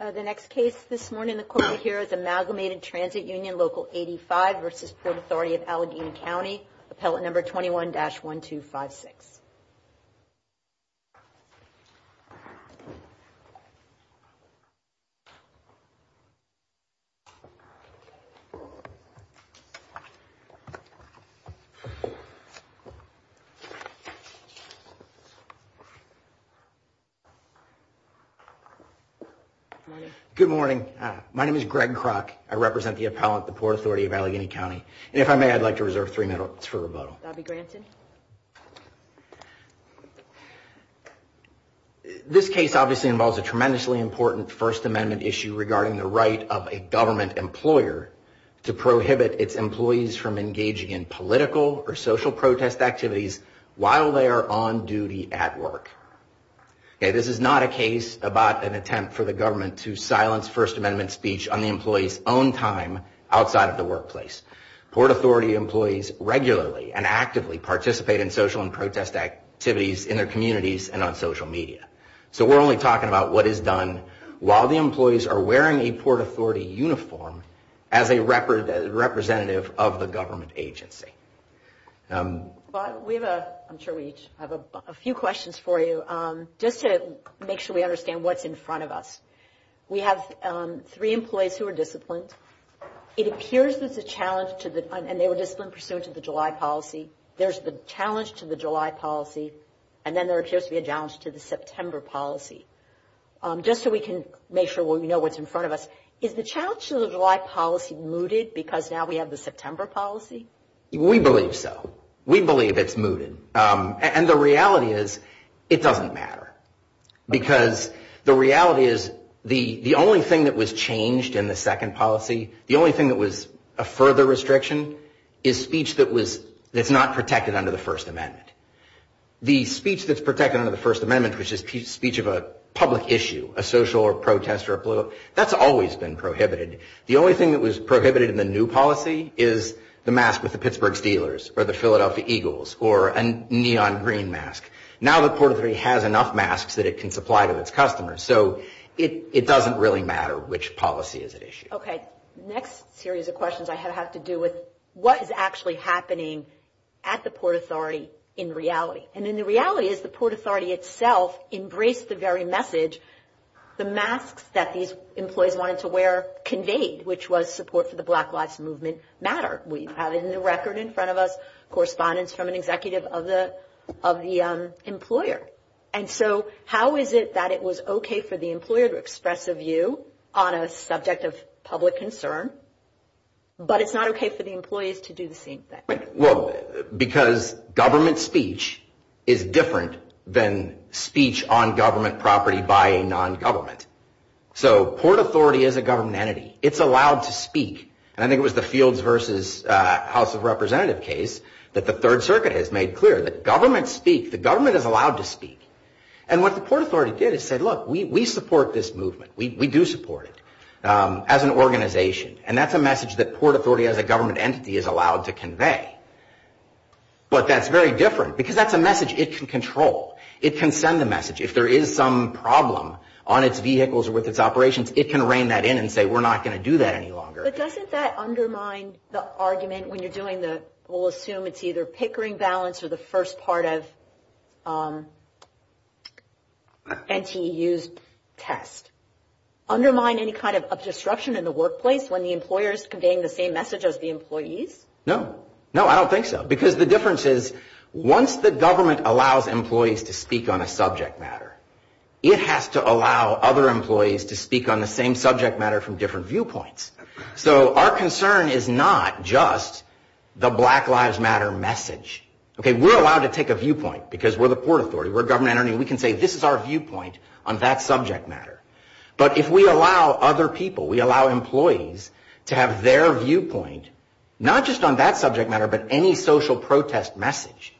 The next case this morning, the court will hear is Amalgamated Transit Union Local85 v. Port Authority of Allegheny County, appellate number 21-1256. Good morning. My name is Greg Kroc. I represent the appellate, the Port Authority of Allegheny County. And if I may, I'd like to reserve three minutes for rebuttal. This case obviously involves a tremendously important First Amendment issue regarding the right of a government employer to prohibit its employees from engaging in political or social protest activities while they are on duty at work. This is not a case about an attempt for the government to silence First Amendment speech on the employee's own time outside of the workplace. Port Authority employees regularly and actively participate in social and protest activities in their communities and on social media. So we're only talking about what is done while the employees are wearing a Port Authority uniform as a representative of the government agency. We have a, I'm sure we each have a few questions for you. Just to make sure we understand what's in front of us, we have three employees who are disciplined. It appears there's a challenge to the, and they were disciplined pursuant to the July policy. There's the challenge to the July policy, and then there appears to be a challenge to the September policy. Just so we can make sure we know what's in front of us, is the challenge to the July policy mooted because now we have the September policy? We believe so. We believe it's mooted. And the reality is it doesn't matter. Because the reality is the only thing that was changed in the second policy, the only thing that was a further restriction, is speech that was, that's not protected under the First Amendment. The speech that's protected under the First Amendment, which is speech of a public issue, a social or protest or a political, that's always been prohibited. The only thing that was prohibited in the new policy is the mask with the Pittsburgh Steelers or the Philadelphia Eagles or a neon green mask. Now the Port Authority has enough masks that it can supply to its customers. So it doesn't really matter which policy is at issue. Okay. Next series of questions I have have to do with what is actually happening at the Port Authority in reality. And the reality is the Port Authority itself embraced the very message, the masks that these employees wanted to wear conveyed, which was support for the Black Lives Movement matter. We have it in the record in front of us, correspondence from an executive of the employer. And so how is it that it was okay for the employer to express a view on a subject of public concern, but it's not okay for the employees to do the same thing? Well, because government speech is different than speech on government property by a non-government. So Port Authority is a government entity. It's allowed to speak. And I think it was the Fields versus House of Representatives case that the Third Circuit has made clear that government speak, the government is allowed to speak. And what the Port Authority did is said, look, we support this movement. We do support it as an organization. And that's a message that Port Authority as a government entity is allowed to convey. But that's very different because that's a message it can control. It can send a message. If there is some problem on its vehicles or with its operations, it can rein that in and say, we're not going to do that any longer. But doesn't that undermine the argument when you're doing the, we'll assume it's either pickering balance or the first part of NTU's test? Undermine any kind of disruption in the workplace when the employer is conveying the same message as the employees? No. No, I don't think so, because the difference is once the government allows employees to speak on a subject matter, it has to allow other employees to speak on the same subject matter from different viewpoints. So our concern is not just the Black Lives Matter message. We're allowed to take a viewpoint because we're the Port Authority. We're a government entity. We can say this is our viewpoint on that subject matter. But if we allow other people, we allow employees to have their viewpoint, not just on that subject matter, but any social protest message,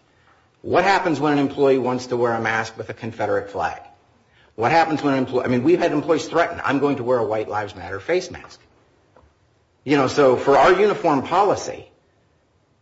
what happens when an employee wants to wear a mask with a Confederate flag? What happens when an employee, I mean, we've had employees threaten, I'm going to wear a White Lives Matter face mask. You know, so for our uniform policy,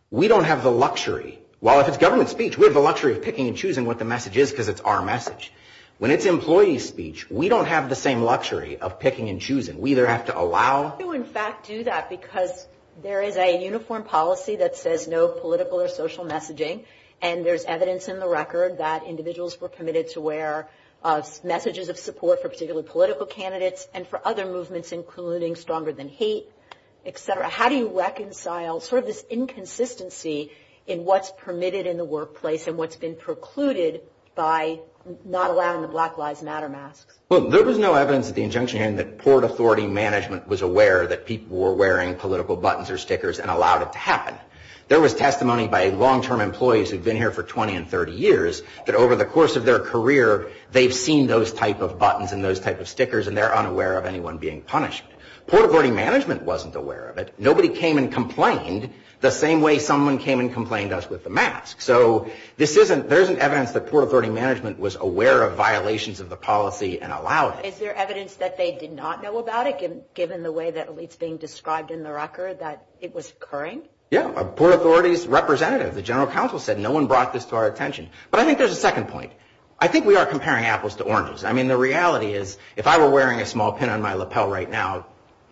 we don't have the luxury. Well, if it's government speech, we have the luxury of picking and choosing what the message is because it's our message. When it's employee speech, we don't have the same luxury of picking and choosing. We either have to allow. How do you, in fact, do that? Because there is a uniform policy that says no political or social messaging, and there's evidence in the record that individuals were committed to wear messages of support for particular political candidates and for other movements, including stronger than hate, et cetera. How do you reconcile sort of this inconsistency in what's permitted in the workplace and what's been precluded by not allowing the Black Lives Matter masks? Well, there was no evidence at the injunction hearing that port authority management was aware that people were wearing political buttons or stickers and allowed it to happen. There was testimony by long-term employees who'd been here for 20 and 30 years that over the course of their career, they've seen those type of buttons and those type of stickers, and they're unaware of anyone being punished. Port authority management wasn't aware of it. Nobody came and complained the same way someone came and complained to us with the mask. So there isn't evidence that port authority management was aware of violations of the policy and allowed it. Is there evidence that they did not know about it, given the way that it's being described in the record, that it was occurring? Yeah. A port authority's representative, the general counsel, said no one brought this to our attention. But I think there's a second point. I think we are comparing apples to oranges. I mean, the reality is, if I were wearing a small pin on my lapel right now,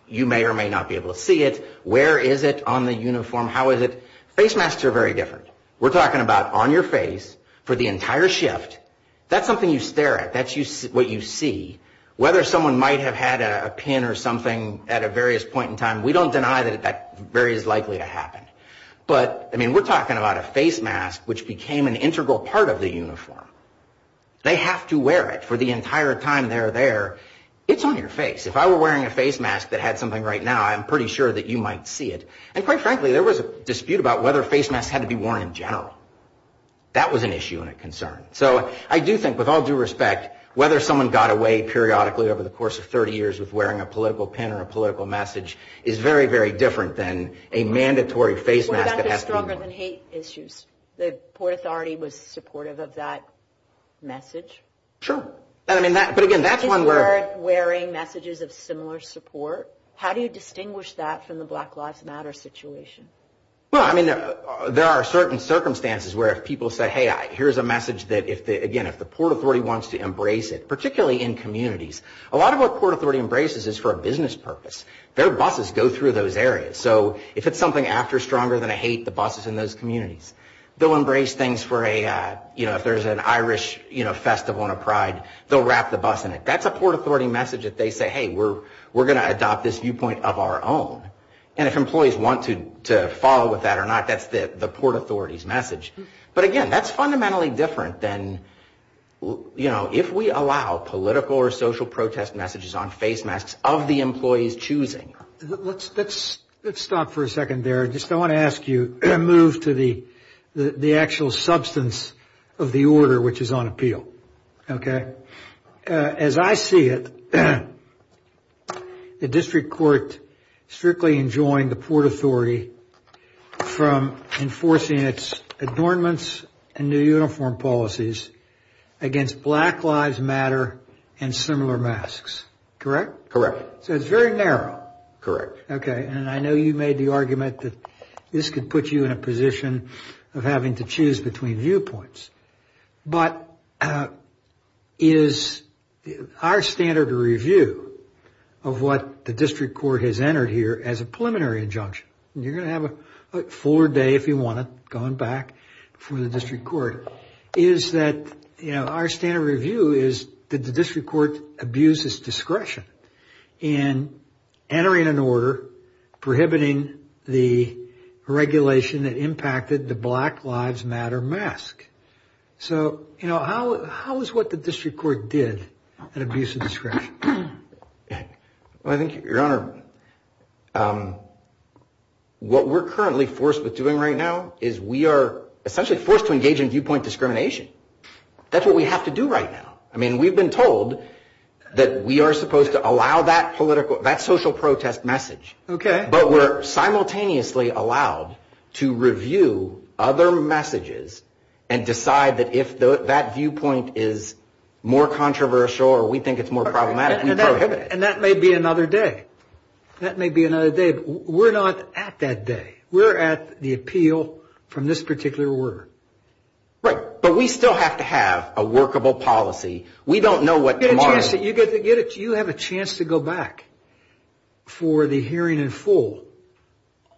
you may or may not be able to see it. Where is it on the uniform? How is it? Face masks are very different. We're talking about on your face for the entire shift. That's something you stare at. That's what you see. Whether someone might have had a pin or something at a various point in time, we don't deny that that very is likely to happen. But, I mean, we're talking about a face mask, which became an integral part of the uniform. They have to wear it for the entire time they're there. It's on your face. If I were wearing a face mask that had something right now, I'm pretty sure that you might see it. And, quite frankly, there was a dispute about whether face masks had to be worn in general. That was an issue and a concern. So I do think, with all due respect, whether someone got away periodically over the course of 30 years with wearing a political pin or a political message is very, very different than a mandatory face mask that has to be worn. What about the stronger than hate issues? The Port Authority was supportive of that message. Sure. But, again, that's one where – Kids were wearing messages of similar support. How do you distinguish that from the Black Lives Matter situation? Well, I mean, there are certain circumstances where if people say, hey, here's a message that, again, if the Port Authority wants to embrace it, particularly in communities, a lot of what Port Authority embraces is for a business purpose. Their buses go through those areas. So if it's something after stronger than a hate, the bus is in those communities. They'll embrace things for a – you know, if there's an Irish festival and a pride, they'll wrap the bus in it. That's a Port Authority message that they say, hey, we're going to adopt this viewpoint of our own. And if employees want to follow with that or not, that's the Port Authority's message. But, again, that's fundamentally different than, you know, if we allow political or social protest messages on face masks of the employees choosing. Let's stop for a second there. I want to ask you to move to the actual substance of the order, which is on appeal. Okay. As I see it, the district court strictly enjoined the Port Authority from enforcing its adornments and new uniform policies against Black Lives Matter and similar masks. Correct? Correct. So it's very narrow. Correct. Okay. And I know you made the argument that this could put you in a position of having to choose between viewpoints. But is our standard review of what the district court has entered here as a preliminary injunction – and you're going to have a fuller day, if you want it, going back from the district court – is that, you know, our standard review is that the district court abuses discretion in entering an order prohibiting the regulation that impacted the Black Lives Matter mask. So, you know, how is what the district court did an abuse of discretion? Well, I think, Your Honor, what we're currently forced with doing right now is we are essentially forced to engage in viewpoint discrimination. That's what we have to do right now. I mean, we've been told that we are supposed to allow that social protest message. Okay. But we're simultaneously allowed to review other messages and decide that if that viewpoint is more controversial or we think it's more problematic, we prohibit it. And that may be another day. That may be another day. But we're not at that day. We're at the appeal from this particular order. Right. But we still have to have a workable policy. We don't know what tomorrow – You have a chance to go back for the hearing in full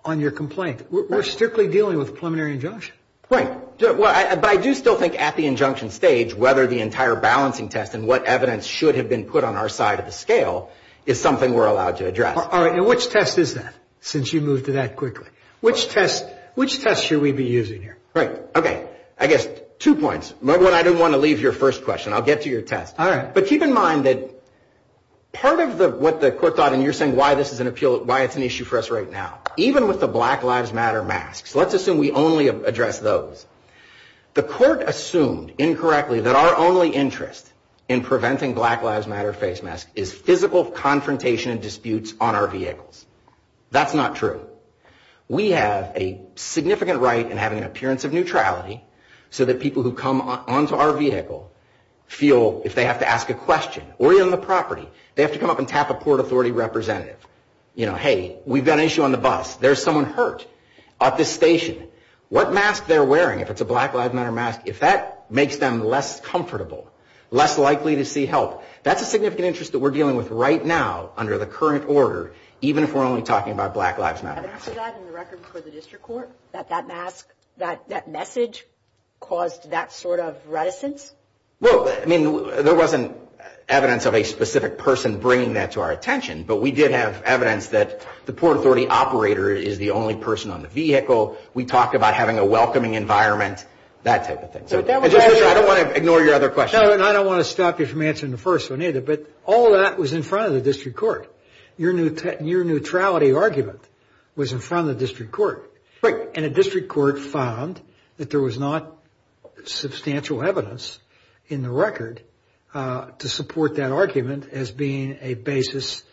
on your complaint. We're strictly dealing with a preliminary injunction. Right. But I do still think at the injunction stage whether the entire balancing test and what evidence should have been put on our side of the scale is something we're allowed to address. All right. And which test is that since you moved to that quickly? Which test should we be using here? Right. Okay. I guess two points. Number one, I didn't want to leave your first question. I'll get to your test. All right. But keep in mind that part of what the court thought, and you're saying why this is an issue for us right now, even with the Black Lives Matter masks, let's assume we only address those. The court assumed incorrectly that our only interest in preventing Black Lives Matter face masks is physical confrontation and disputes on our vehicles. That's not true. We have a significant right in having an appearance of neutrality so that people who come onto our vehicle feel if they have to ask a question. We're on the property. They have to come up and tap a Port Authority representative. You know, hey, we've got an issue on the bus. There's someone hurt at this station. What mask they're wearing, if it's a Black Lives Matter mask, if that makes them less comfortable, less likely to see help, that's a significant interest that we're dealing with right now under the current order, even if we're only talking about Black Lives Matter masks. Was there evidence of that in the record before the district court, that that message caused that sort of reticence? Well, I mean, there wasn't evidence of a specific person bringing that to our attention, but we did have evidence that the Port Authority operator is the only person on the vehicle. We talked about having a welcoming environment, that type of thing. So I don't want to ignore your other question. No, and I don't want to stop you from answering the first one either, but all of that was in front of the district court. Your neutrality argument was in front of the district court. Right. And the district court found that there was not substantial evidence in the record to support that argument as being a basis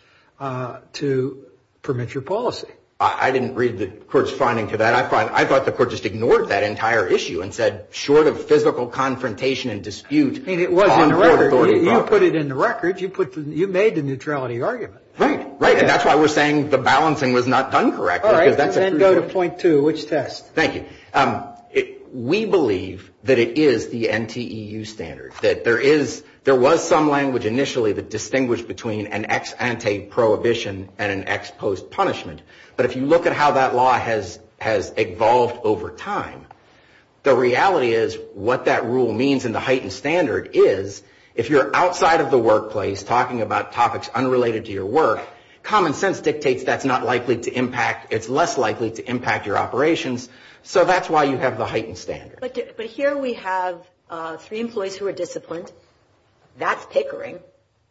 to permit your policy. I didn't read the court's finding to that. I thought the court just ignored that entire issue and said, short of physical confrontation and dispute on Port Authority property. I mean, it was in the record. You put it in the record. You made the neutrality argument. Right. And that's why we're saying the balancing was not done correctly. All right. Then go to point two. Which test? Thank you. We believe that it is the NTEU standard, that there was some language initially that distinguished between an ex ante prohibition and an ex post punishment. But if you look at how that law has evolved over time, the reality is what that rule means in the heightened standard is, if you're outside of the workplace talking about topics unrelated to your work, common sense dictates that's not likely to impact, it's less likely to impact your operations. So that's why you have the heightened standard. But here we have three employees who are disciplined. That's Pickering.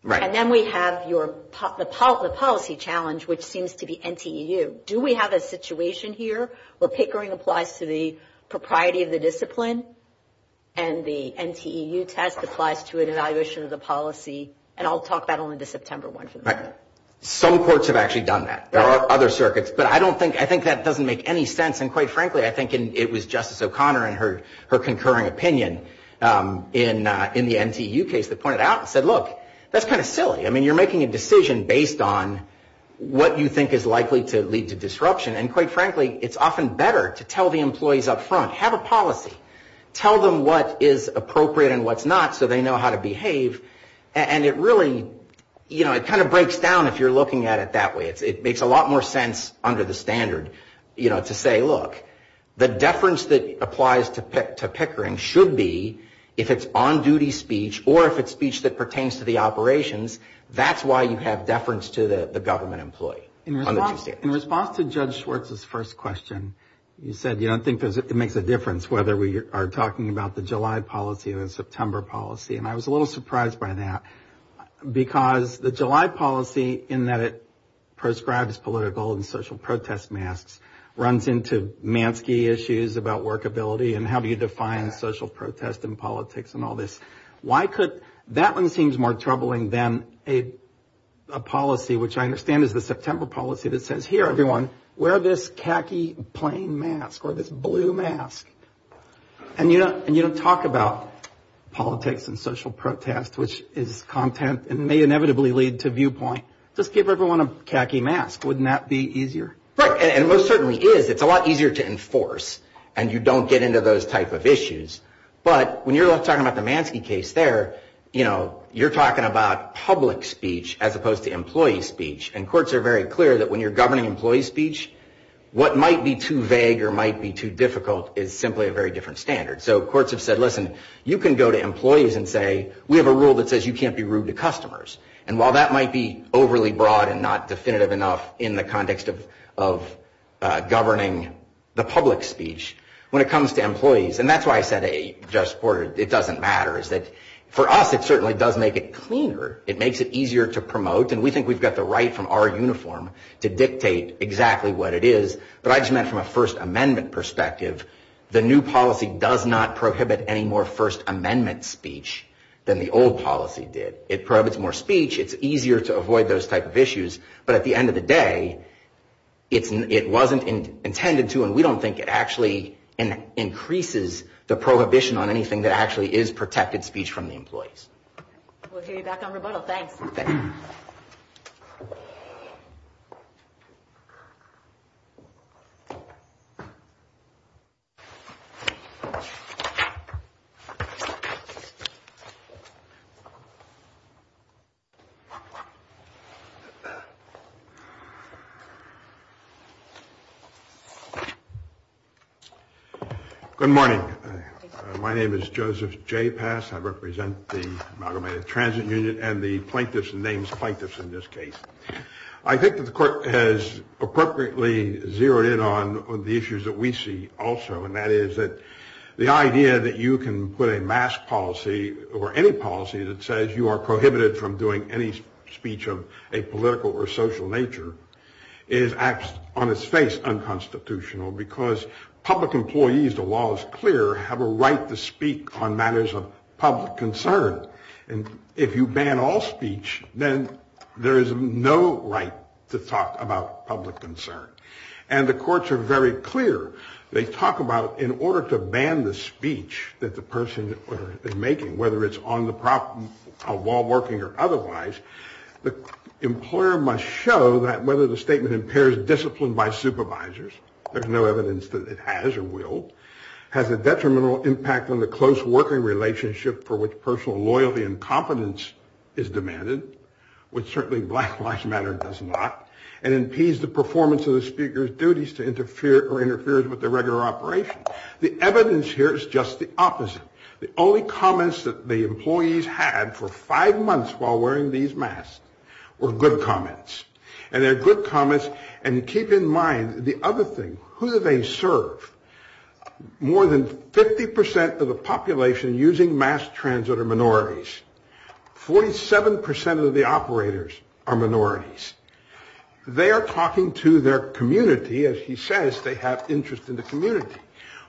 Right. And then we have the policy challenge, which seems to be NTEU. Do we have a situation here where Pickering applies to the propriety of the discipline and the NTEU test applies to an evaluation of the policy? And I'll talk about only the September one for the moment. Right. Some courts have actually done that. There are other circuits. But I think that doesn't make any sense. And, quite frankly, I think it was Justice O'Connor and her concurring opinion in the NTEU case that pointed out and said, look, that's kind of silly. I mean, you're making a decision based on what you think is likely to lead to disruption. And, quite frankly, it's often better to tell the employees up front, have a policy. Tell them what is appropriate and what's not so they know how to behave. And it really, you know, it kind of breaks down if you're looking at it that way. It makes a lot more sense under the standard, you know, to say, look, the deference that applies to Pickering should be if it's on-duty speech or if it's speech that pertains to the operations. That's why you have deference to the government employee. In response to Judge Schwartz's first question, you said you don't think it makes a difference whether we are talking about the July policy or the September policy. And I was a little surprised by that because the July policy, in that it proscribes political and social protest masks, runs into Mansky issues about workability and how do you define social protest and politics and all this. Why could, that one seems more troubling than a policy, which I understand is the September policy that says, here, everyone, wear this khaki plain mask or this blue mask. And you don't talk about politics and social protest, which is content and may inevitably lead to viewpoint. Just give everyone a khaki mask. Wouldn't that be easier? Right. And it most certainly is. It's a lot easier to enforce. And you don't get into those type of issues. But when you're talking about the Mansky case there, you're talking about public speech as opposed to employee speech. And courts are very clear that when you're governing employee speech, what might be too vague or might be too difficult is simply a very different standard. So courts have said, listen, you can go to employees and say, we have a rule that says you can't be rude to customers. And while that might be overly broad and not definitive enough in the context of governing the public speech, when it comes to employees, and that's why I said it doesn't matter, is that for us it certainly does make it cleaner. It makes it easier to promote. And we think we've got the right from our uniform to dictate exactly what it is. But I just meant from a First Amendment perspective, the new policy does not prohibit any more First Amendment speech than the old policy did. It prohibits more speech. It's easier to avoid those type of issues. But at the end of the day, it wasn't intended to, and we don't think it actually increases the prohibition on anything that actually is protected speech from the employees. We'll hear you back on rebuttal. Thanks. Good morning. My name is Joseph J. Pass. I represent the Amalgamated Transit Union and the plaintiffs and names plaintiffs in this case. I think that the court has appropriately zeroed in on the issues that we see also, and that is that the idea that you can put a mask policy or any policy that says you are prohibited from doing any speech of a political or social nature is on its face unconstitutional because public employees, the law is clear, have a right to speak on matters of public concern. And if you ban all speech, then there is no right to talk about public concern. And the courts are very clear. They talk about in order to ban the speech that the person is making, whether it's on the problem of while working or otherwise, the employer must show that whether the statement impairs discipline by supervisors, there's no evidence that it has or will, has a detrimental impact on the close working relationship for which personal loyalty and confidence is demanded, which certainly Black Lives Matter does not, and impedes the performance of the speaker's duties to interfere or interferes with the regular operation. The evidence here is just the opposite. The only comments that the employees had for five months while wearing these masks were good comments. And they're good comments. And keep in mind the other thing. Who do they serve? More than 50 percent of the population using mass transit are minorities. Forty seven percent of the operators are minorities. They are talking to their community. As he says, they have interest in the community.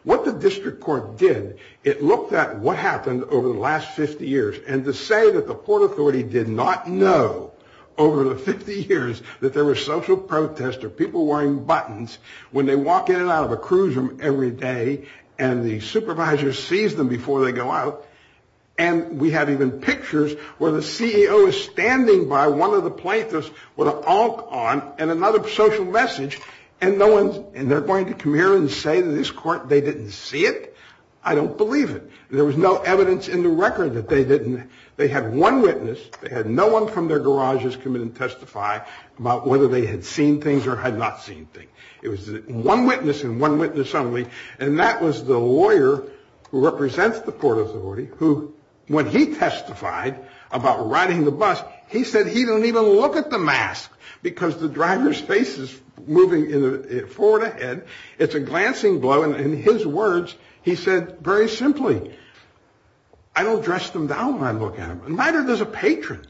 What the district court did, it looked at what happened over the last 50 years. And to say that the Port Authority did not know over the 50 years that there was social protest or people wearing buttons when they walk in and out of a cruise room every day and the supervisor sees them before they go out. And we have even pictures where the CEO is standing by one of the plaintiffs with an on and another social message. And they're going to come here and say to this court they didn't see it. I don't believe it. There was no evidence in the record that they didn't. They had one witness. They had no one from their garages come in and testify about whether they had seen things or had not seen things. It was one witness and one witness only. And that was the lawyer who represents the Port Authority, who when he testified about riding the bus, he said he didn't even look at the mask because the driver's face is moving forward ahead. It's a glancing blow. And in his words, he said very simply, I don't dress them down when I look at them. Neither does a patron.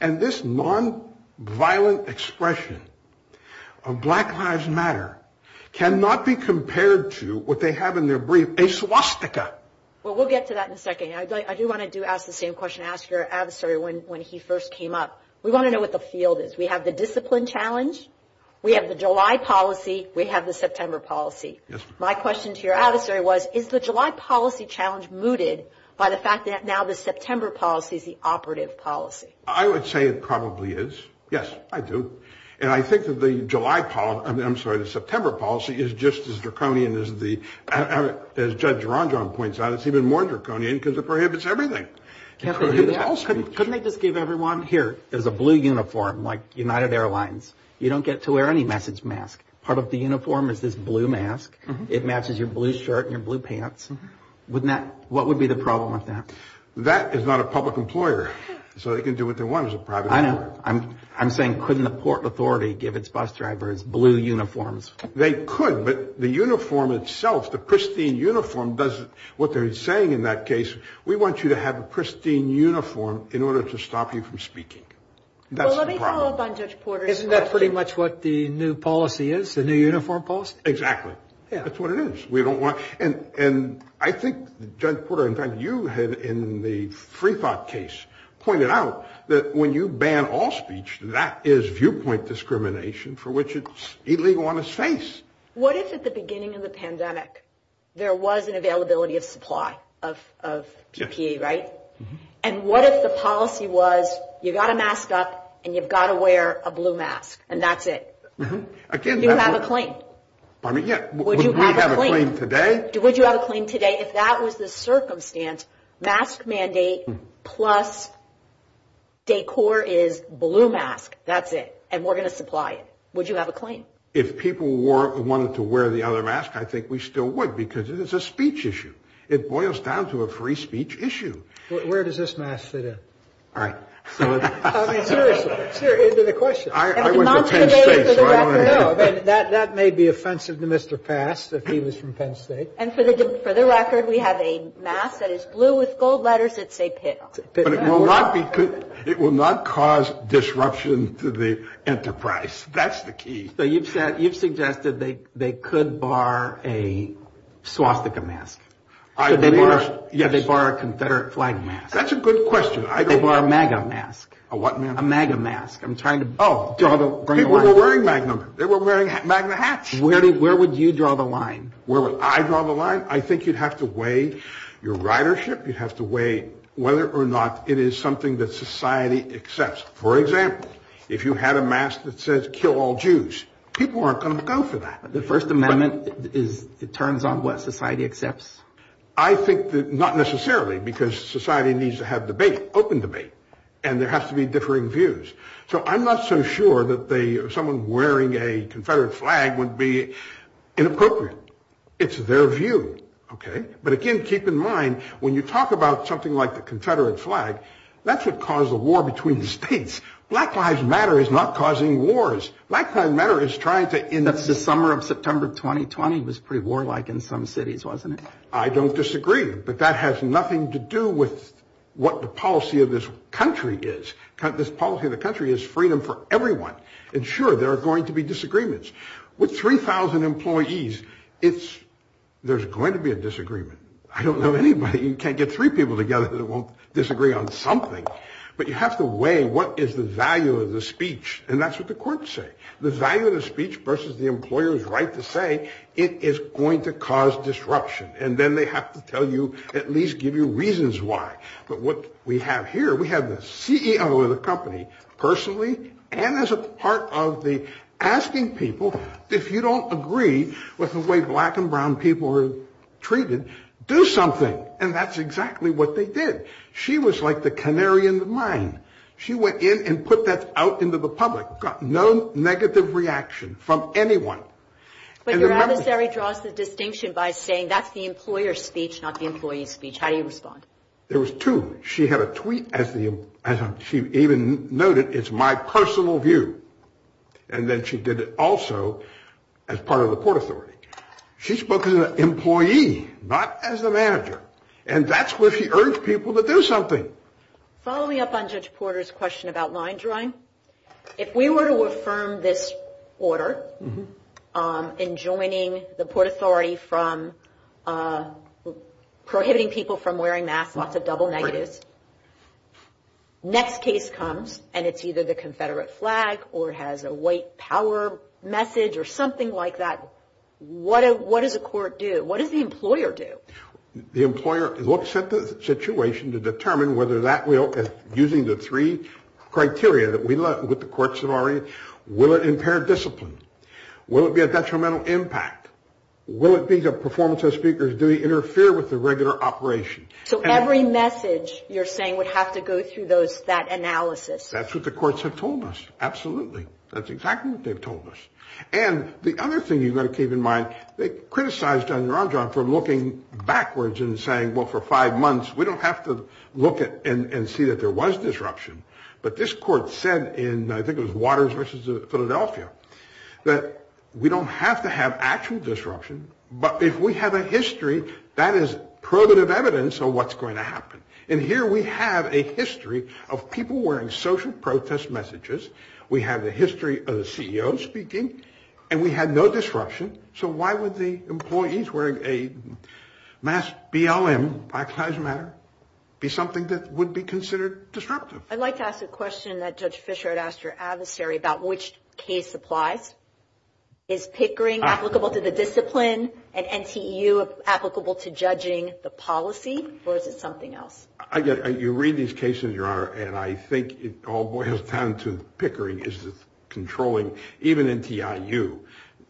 And this nonviolent expression of Black Lives Matter cannot be compared to what they have in their brief, a swastika. Well, we'll get to that in a second. I do want to do ask the same question. When he first came up, we want to know what the field is. We have the discipline challenge. We have the July policy. We have the September policy. My question to your adversary was, is the July policy challenge mooted by the fact that now the September policy is the operative policy? I would say it probably is. Yes, I do. And I think that the July. I'm sorry. The September policy is just as draconian as the judge. It's even more draconian because it prohibits everything. Couldn't they just give everyone here is a blue uniform like United Airlines. You don't get to wear any message mask. Part of the uniform is this blue mask. It matches your blue shirt and your blue pants. Wouldn't that what would be the problem with that? That is not a public employer. So they can do what they want as a private. I know I'm I'm saying couldn't the Port Authority give its bus drivers blue uniforms? They could. But the uniform itself, the pristine uniform, does what they're saying in that case. We want you to have a pristine uniform in order to stop you from speaking. That's the problem. Isn't that pretty much what the new policy is, the new uniform policy? Exactly. That's what it is. We don't want. And I think Judge Porter, in fact, you had in the free thought case pointed out that when you ban all speech, that is viewpoint discrimination for which it's illegal on his face. What if at the beginning of the pandemic there was an availability of supply of PPE? Right. And what if the policy was you got to mask up and you've got to wear a blue mask and that's it. Again, you have a claim. I mean, yeah. Would you have a claim today? Would you have a claim today if that was the circumstance? Mask mandate plus. Decor is blue mask. That's it. And we're going to supply it. Would you have a claim if people were wanting to wear the other mask? I think we still would, because it is a speech issue. It boils down to a free speech issue. Where does this mask fit in? All right. I mean, seriously. And for the for the record, we have a mask that is blue with gold letters. It's a pit. It will not be good. It will not cause disruption to the enterprise. That's the key. So you've said you've suggested they they could bar a swastika mask. I think they were. Yeah. They bar a Confederate flag. That's a good question. I think we're a mega mask. A what? A mega mask. I'm trying to. Oh, we're wearing Magnum. They were wearing Magnum hats. Where did where would you draw the line? Where would I draw the line? I think you'd have to weigh your ridership. You'd have to weigh whether or not it is something that society accepts. For example, if you had a mask that says kill all Jews, people aren't going to go for that. The First Amendment is it turns on what society accepts. I think that not necessarily because society needs to have debate, open debate, and there has to be differing views. So I'm not so sure that they are someone wearing a Confederate flag would be inappropriate. It's their view. OK. But again, keep in mind, when you talk about something like the Confederate flag, that's what caused the war between the states. Black Lives Matter is not causing wars. Black Lives Matter is trying to end the summer of September. Twenty twenty was pretty warlike in some cities, wasn't it? I don't disagree. But that has nothing to do with what the policy of this country is. This policy of the country is freedom for everyone. And sure, there are going to be disagreements with three thousand employees. It's there's going to be a disagreement. I don't know anybody. You can't get three people together that won't disagree on something. But you have to weigh what is the value of the speech. And that's what the courts say. The value of the speech versus the employer's right to say it is going to cause disruption. And then they have to tell you at least give you reasons why. But what we have here, we have the CEO of the company personally and as a part of the asking people, if you don't agree with the way black and brown people are treated, do something. And that's exactly what they did. She was like the canary in the mine. She went in and put that out into the public, got no negative reaction from anyone. But your adversary draws the distinction by saying that's the employer's speech, not the employee's speech. How do you respond? There was two. She had a tweet as the as she even noted. It's my personal view. And then she did it also as part of the court authority. She spoke as an employee, not as a manager. And that's where she urged people to do something. Follow me up on Judge Porter's question about line drawing. If we were to affirm this order in joining the Port Authority from prohibiting people from wearing masks, lots of double negatives. Next case comes and it's either the Confederate flag or has a white power message or something like that. What does the court do? What does the employer do? The employer looks at the situation to determine whether that will, using the three criteria that we look with the courts of our will it impair discipline? Will it be a detrimental impact? Will it be the performance of speakers? Do we interfere with the regular operation? So every message you're saying would have to go through those that analysis. That's what the courts have told us. Absolutely. That's exactly what they've told us. And the other thing you've got to keep in mind, they criticized John Ron John for looking backwards and saying, well, for five months, we don't have to look at and see that there was disruption. But this court said in I think it was Waters versus Philadelphia that we don't have to have actual disruption. But if we have a history that is probative evidence of what's going to happen. And here we have a history of people wearing social protest messages. We have the history of the CEO speaking and we had no disruption. So why would the employees wearing a mask, BLM, Black Lives Matter, be something that would be considered disruptive? I'd like to ask a question that Judge Fisher had asked your adversary about which case applies. Is Pickering applicable to the discipline and NTU applicable to judging the policy or is it something else? You read these cases, Your Honor, and I think it all boils down to Pickering is controlling. Even NTIU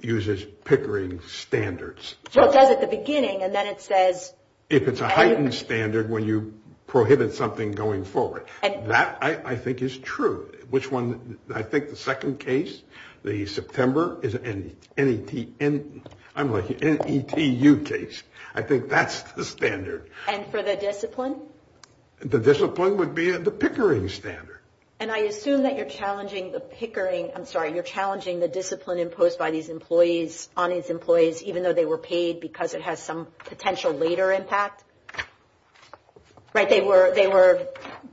uses Pickering standards. So it does at the beginning and then it says. If it's a heightened standard, when you prohibit something going forward, that I think is true. Which one? I think the second case, the September is an NETU case. I think that's the standard. And for the discipline? The discipline would be the Pickering standard. And I assume that you're challenging the Pickering. I'm sorry. You're challenging the discipline imposed by these employees on its employees, even though they were paid because it has some potential later impact. Right. They were they were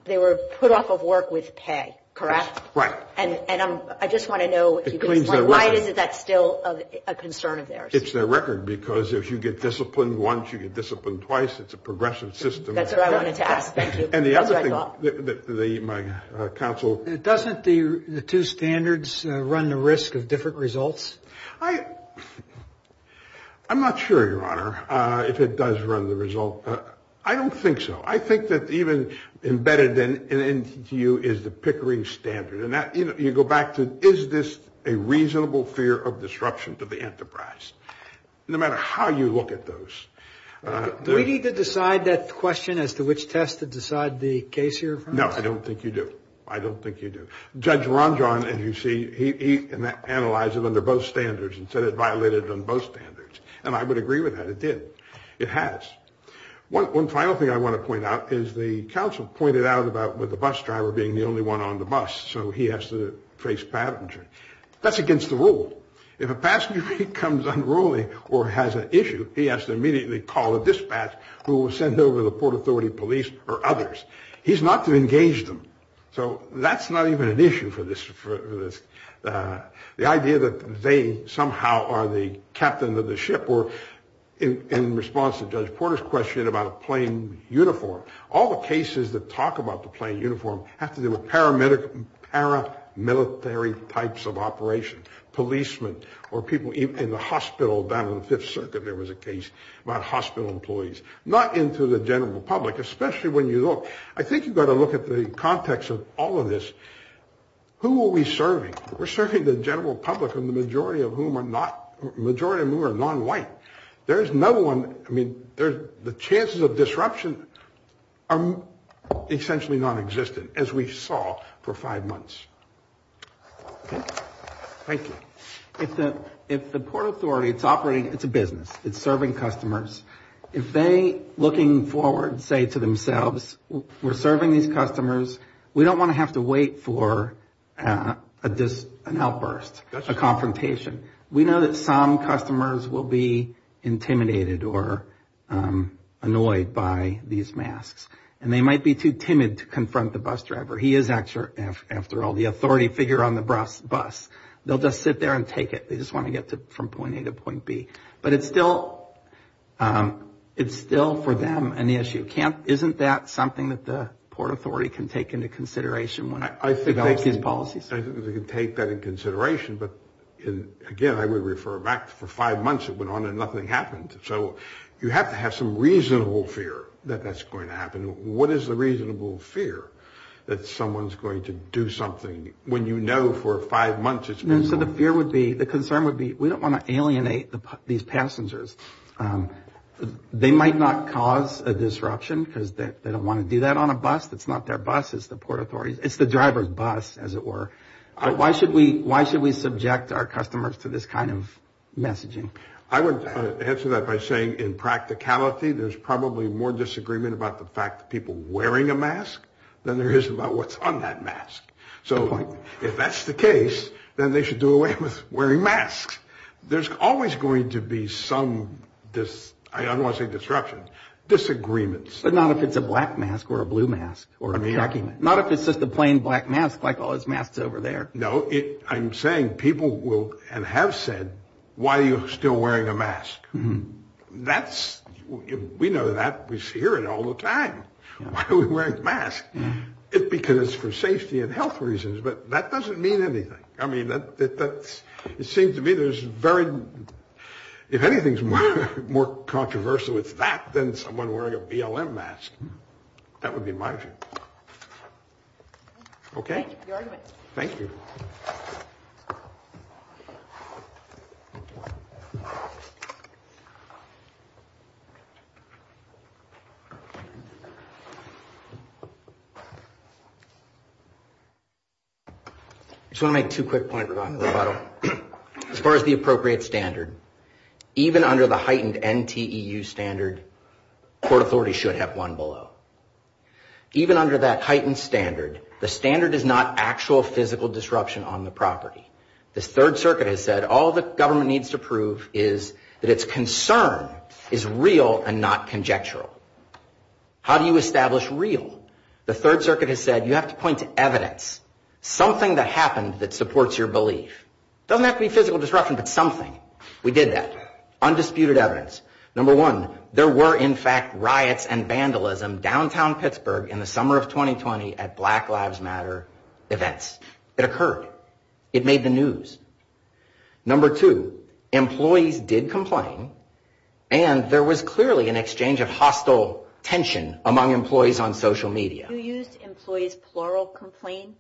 they were put off of work with pay. Correct. Right. And I just want to know why is that still a concern of theirs? It's their record, because if you get disciplined once, you get disciplined twice. It's a progressive system. That's what I wanted to ask. And the other thing that the my counsel, it doesn't the two standards run the risk of different results. I I'm not sure, Your Honor, if it does run the result. I don't think so. I think that even embedded in you is the Pickering standard. And that you go back to, is this a reasonable fear of disruption to the enterprise? No matter how you look at those. Do we need to decide that question as to which test to decide the case here? No, I don't think you do. I don't think you do. Judge Ron John, and you see he analyzed it under both standards and said it violated on both standards. And I would agree with that. It did. It has. One final thing I want to point out is the counsel pointed out about with the bus driver being the only one on the bus. So he has to face passenger. That's against the rule. If a passenger becomes unruly or has an issue, he has to immediately call a dispatch who will send over the Port Authority police or others. He's not to engage them. So that's not even an issue for this. The idea that they somehow are the captain of the ship or in response to Judge Porter's question about a plane uniform. All the cases that talk about the plane uniform have to do with paramilitary types of operation, policemen or people in the hospital down in the Fifth Circuit. There was a case about hospital employees, not into the general public, especially when you look. I think you've got to look at the context of all of this. Who are we serving? We're serving the general public and the majority of whom are not majority of whom are non-white. There is no one. I mean, there's the chances of disruption are essentially nonexistent, as we saw for five months. Thank you. If the if the Port Authority it's operating, it's a business. It's serving customers. If they looking forward, say to themselves, we're serving these customers. We don't want to have to wait for this. That's a confrontation. We know that some customers will be intimidated or annoyed by these masks, and they might be too timid to confront the bus driver. He is, after all, the authority figure on the bus. They'll just sit there and take it. They just want to get to from point A to point B. But it's still it's still for them an issue. Can't isn't that something that the Port Authority can take into consideration when I take these policies? I think we can take that in consideration. But again, I would refer back for five months. It went on and nothing happened. So you have to have some reasonable fear that that's going to happen. What is the reasonable fear that someone's going to do something when, you know, for five months? And so the fear would be the concern would be we don't want to alienate these passengers. They might not cause a disruption because they don't want to do that on a bus. It's not their bus. It's the Port Authority. It's the driver's bus, as it were. Why should we why should we subject our customers to this kind of messaging? I would answer that by saying in practicality, there's probably more disagreement about the fact that people wearing a mask than there is about what's on that mask. So if that's the case, then they should do away with wearing masks. There's always going to be some this I don't want to say disruption disagreements, but not if it's a black mask or a blue mask or not, if it's just a plain black mask like all his masks over there. No, I'm saying people will and have said, why are you still wearing a mask? That's we know that we hear it all the time. Why are we wearing masks? Because for safety and health reasons. But that doesn't mean anything. I mean, that's it seems to me there's very, if anything's more controversial, it's that than someone wearing a BLM mask. That would be my view. OK, thank you. I just want to make two quick points. As far as the appropriate standard, even under the heightened NTU standard, court authority should have one below, even under that heightened standard. The standard is not actual physical disruption on the property. The Third Circuit has said all the government needs to prove is that its concern is real and not conjectural. How do you establish real? The Third Circuit has said you have to point to evidence, something that happened that supports your belief. Doesn't have to be physical disruption, but something. We did that. Undisputed evidence. Number one, there were, in fact, riots and vandalism downtown Pittsburgh in the summer of 2020 at Black Lives Matter events. It occurred. It made the news. Number two, employees did complain. And there was clearly an exchange of hostile tension among employees on social media. You used employees plural complain.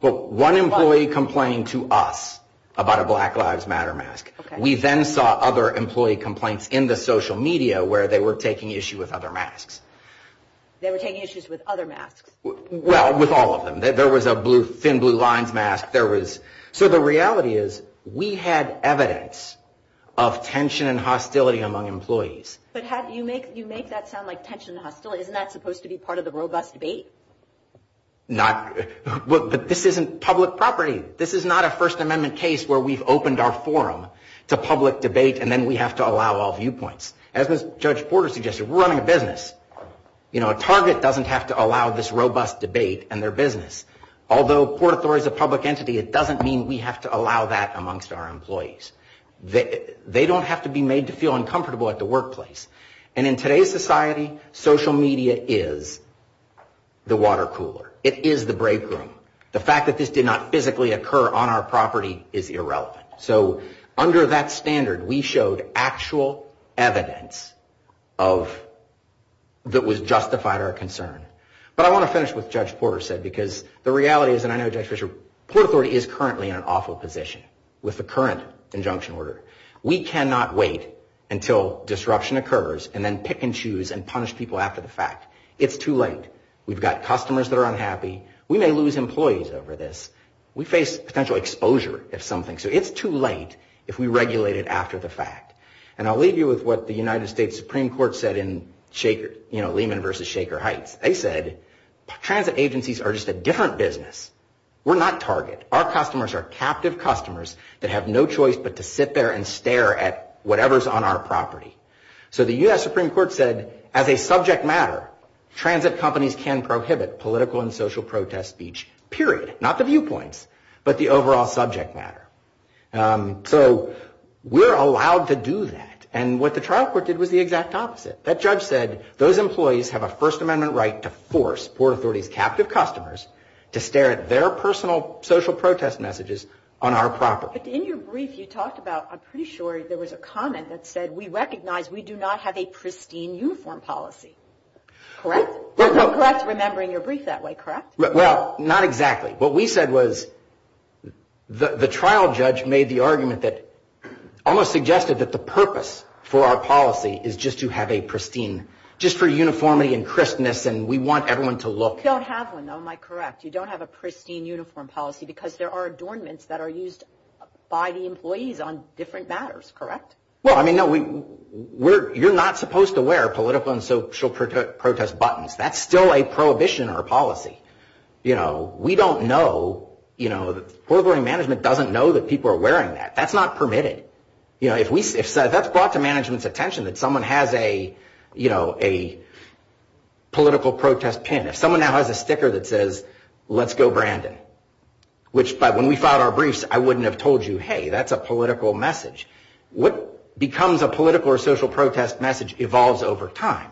But one employee complained to us about a Black Lives Matter mask. We then saw other employee complaints in the social media where they were taking issue with other masks. They were taking issues with other masks. Well, with all of them. There was a blue thin blue lines mask. There was. So the reality is we had evidence of tension and hostility among employees. But how do you make you make that sound like tension and hostility? Isn't that supposed to be part of the robust debate? Not. But this isn't public property. This is not a First Amendment case where we've opened our forum to public debate and then we have to allow all viewpoints. As Judge Porter suggested, we're running a business. You know, a target doesn't have to allow this robust debate and their business. Although Port Authority is a public entity, it doesn't mean we have to allow that amongst our employees. They don't have to be made to feel uncomfortable at the workplace. And in today's society, social media is the water cooler. It is the break room. The fact that this did not physically occur on our property is irrelevant. So under that standard, we showed actual evidence of. That was justified our concern. But I want to finish with Judge Porter said, because the reality is, and I know, Judge Fisher, Port Authority is currently in an awful position with the current injunction order. We cannot wait until disruption occurs and then pick and choose and punish people after the fact. It's too late. We've got customers that are unhappy. We may lose employees over this. We face potential exposure, if something. So it's too late if we regulate it after the fact. And I'll leave you with what the United States Supreme Court said in Lehman versus Shaker Heights. They said, transit agencies are just a different business. We're not target. Our customers are captive customers that have no choice but to sit there and stare at whatever's on our property. So the U.S. Supreme Court said, as a subject matter, transit companies can prohibit political and social protest speech, period. Not the viewpoints, but the overall subject matter. So we're allowed to do that. And what the trial court did was the exact opposite. That judge said, those employees have a First Amendment right to force Port Authority's captive customers to stare at their personal social protest messages on our property. But in your brief, you talked about, I'm pretty sure there was a comment that said, we recognize we do not have a pristine uniform policy. Correct? Correct, remembering your brief that way. Correct? Well, not exactly. What we said was, the trial judge made the argument that almost suggested that the purpose for our policy is just to have a pristine, just for uniformity and crispness, and we want everyone to look. You don't have one, though. Am I correct? You don't have a pristine uniform policy because there are adornments that are used by the employees on different matters. Correct? Well, I mean, no, you're not supposed to wear political and social protest buttons. That's still a prohibition in our policy. You know, we don't know, you know, Port Authority management doesn't know that people are wearing that. That's not permitted. You know, if that's brought to management's attention that someone has a, you know, a political protest pin, if someone now has a sticker that says, let's go Brandon, which by when we filed our briefs, I wouldn't have told you, hey, that's a political message. What becomes a political or social protest message evolves over time,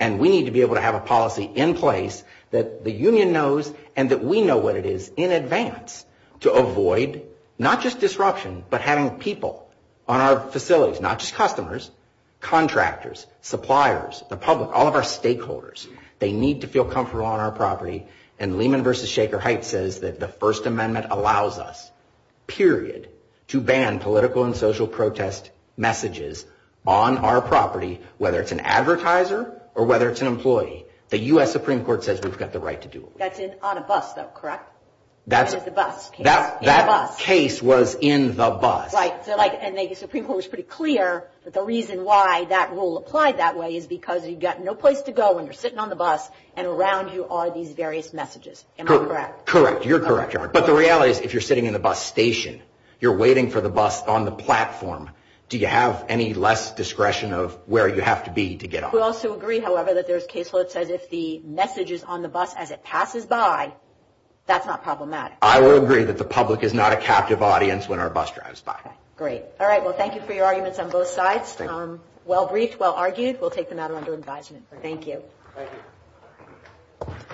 and we need to be able to have a policy in place that the union knows and that we know what it is in advance to avoid not just disruption but having people on our facilities, not just customers, contractors, suppliers, the public, all of our stakeholders, they need to feel comfortable on our property. And Lehman v. Shaker Heights says that the First Amendment allows us, period, to ban political and social protest messages on our property, whether it's an advertiser or whether it's an employee. The U.S. Supreme Court says we've got the right to do it. That's on a bus, though, correct? That's a bus. That case was in the bus. And the Supreme Court was pretty clear that the reason why that rule applied that way is because you've got no place to go when you're sitting on the bus and around you are these various messages. Am I correct? Correct. You're correct. But the reality is if you're sitting in the bus station, you're waiting for the bus on the platform, do you have any less discretion of where you have to be to get on? We also agree, however, that there's case where it says if the message is on the bus as it passes by, that's not problematic. I will agree that the public is not a captive audience when our bus drives by. Great. All right. Well, thank you for your arguments on both sides. Well-briefed, well-argued. We'll take the matter under advisement. Thank you. Thank you.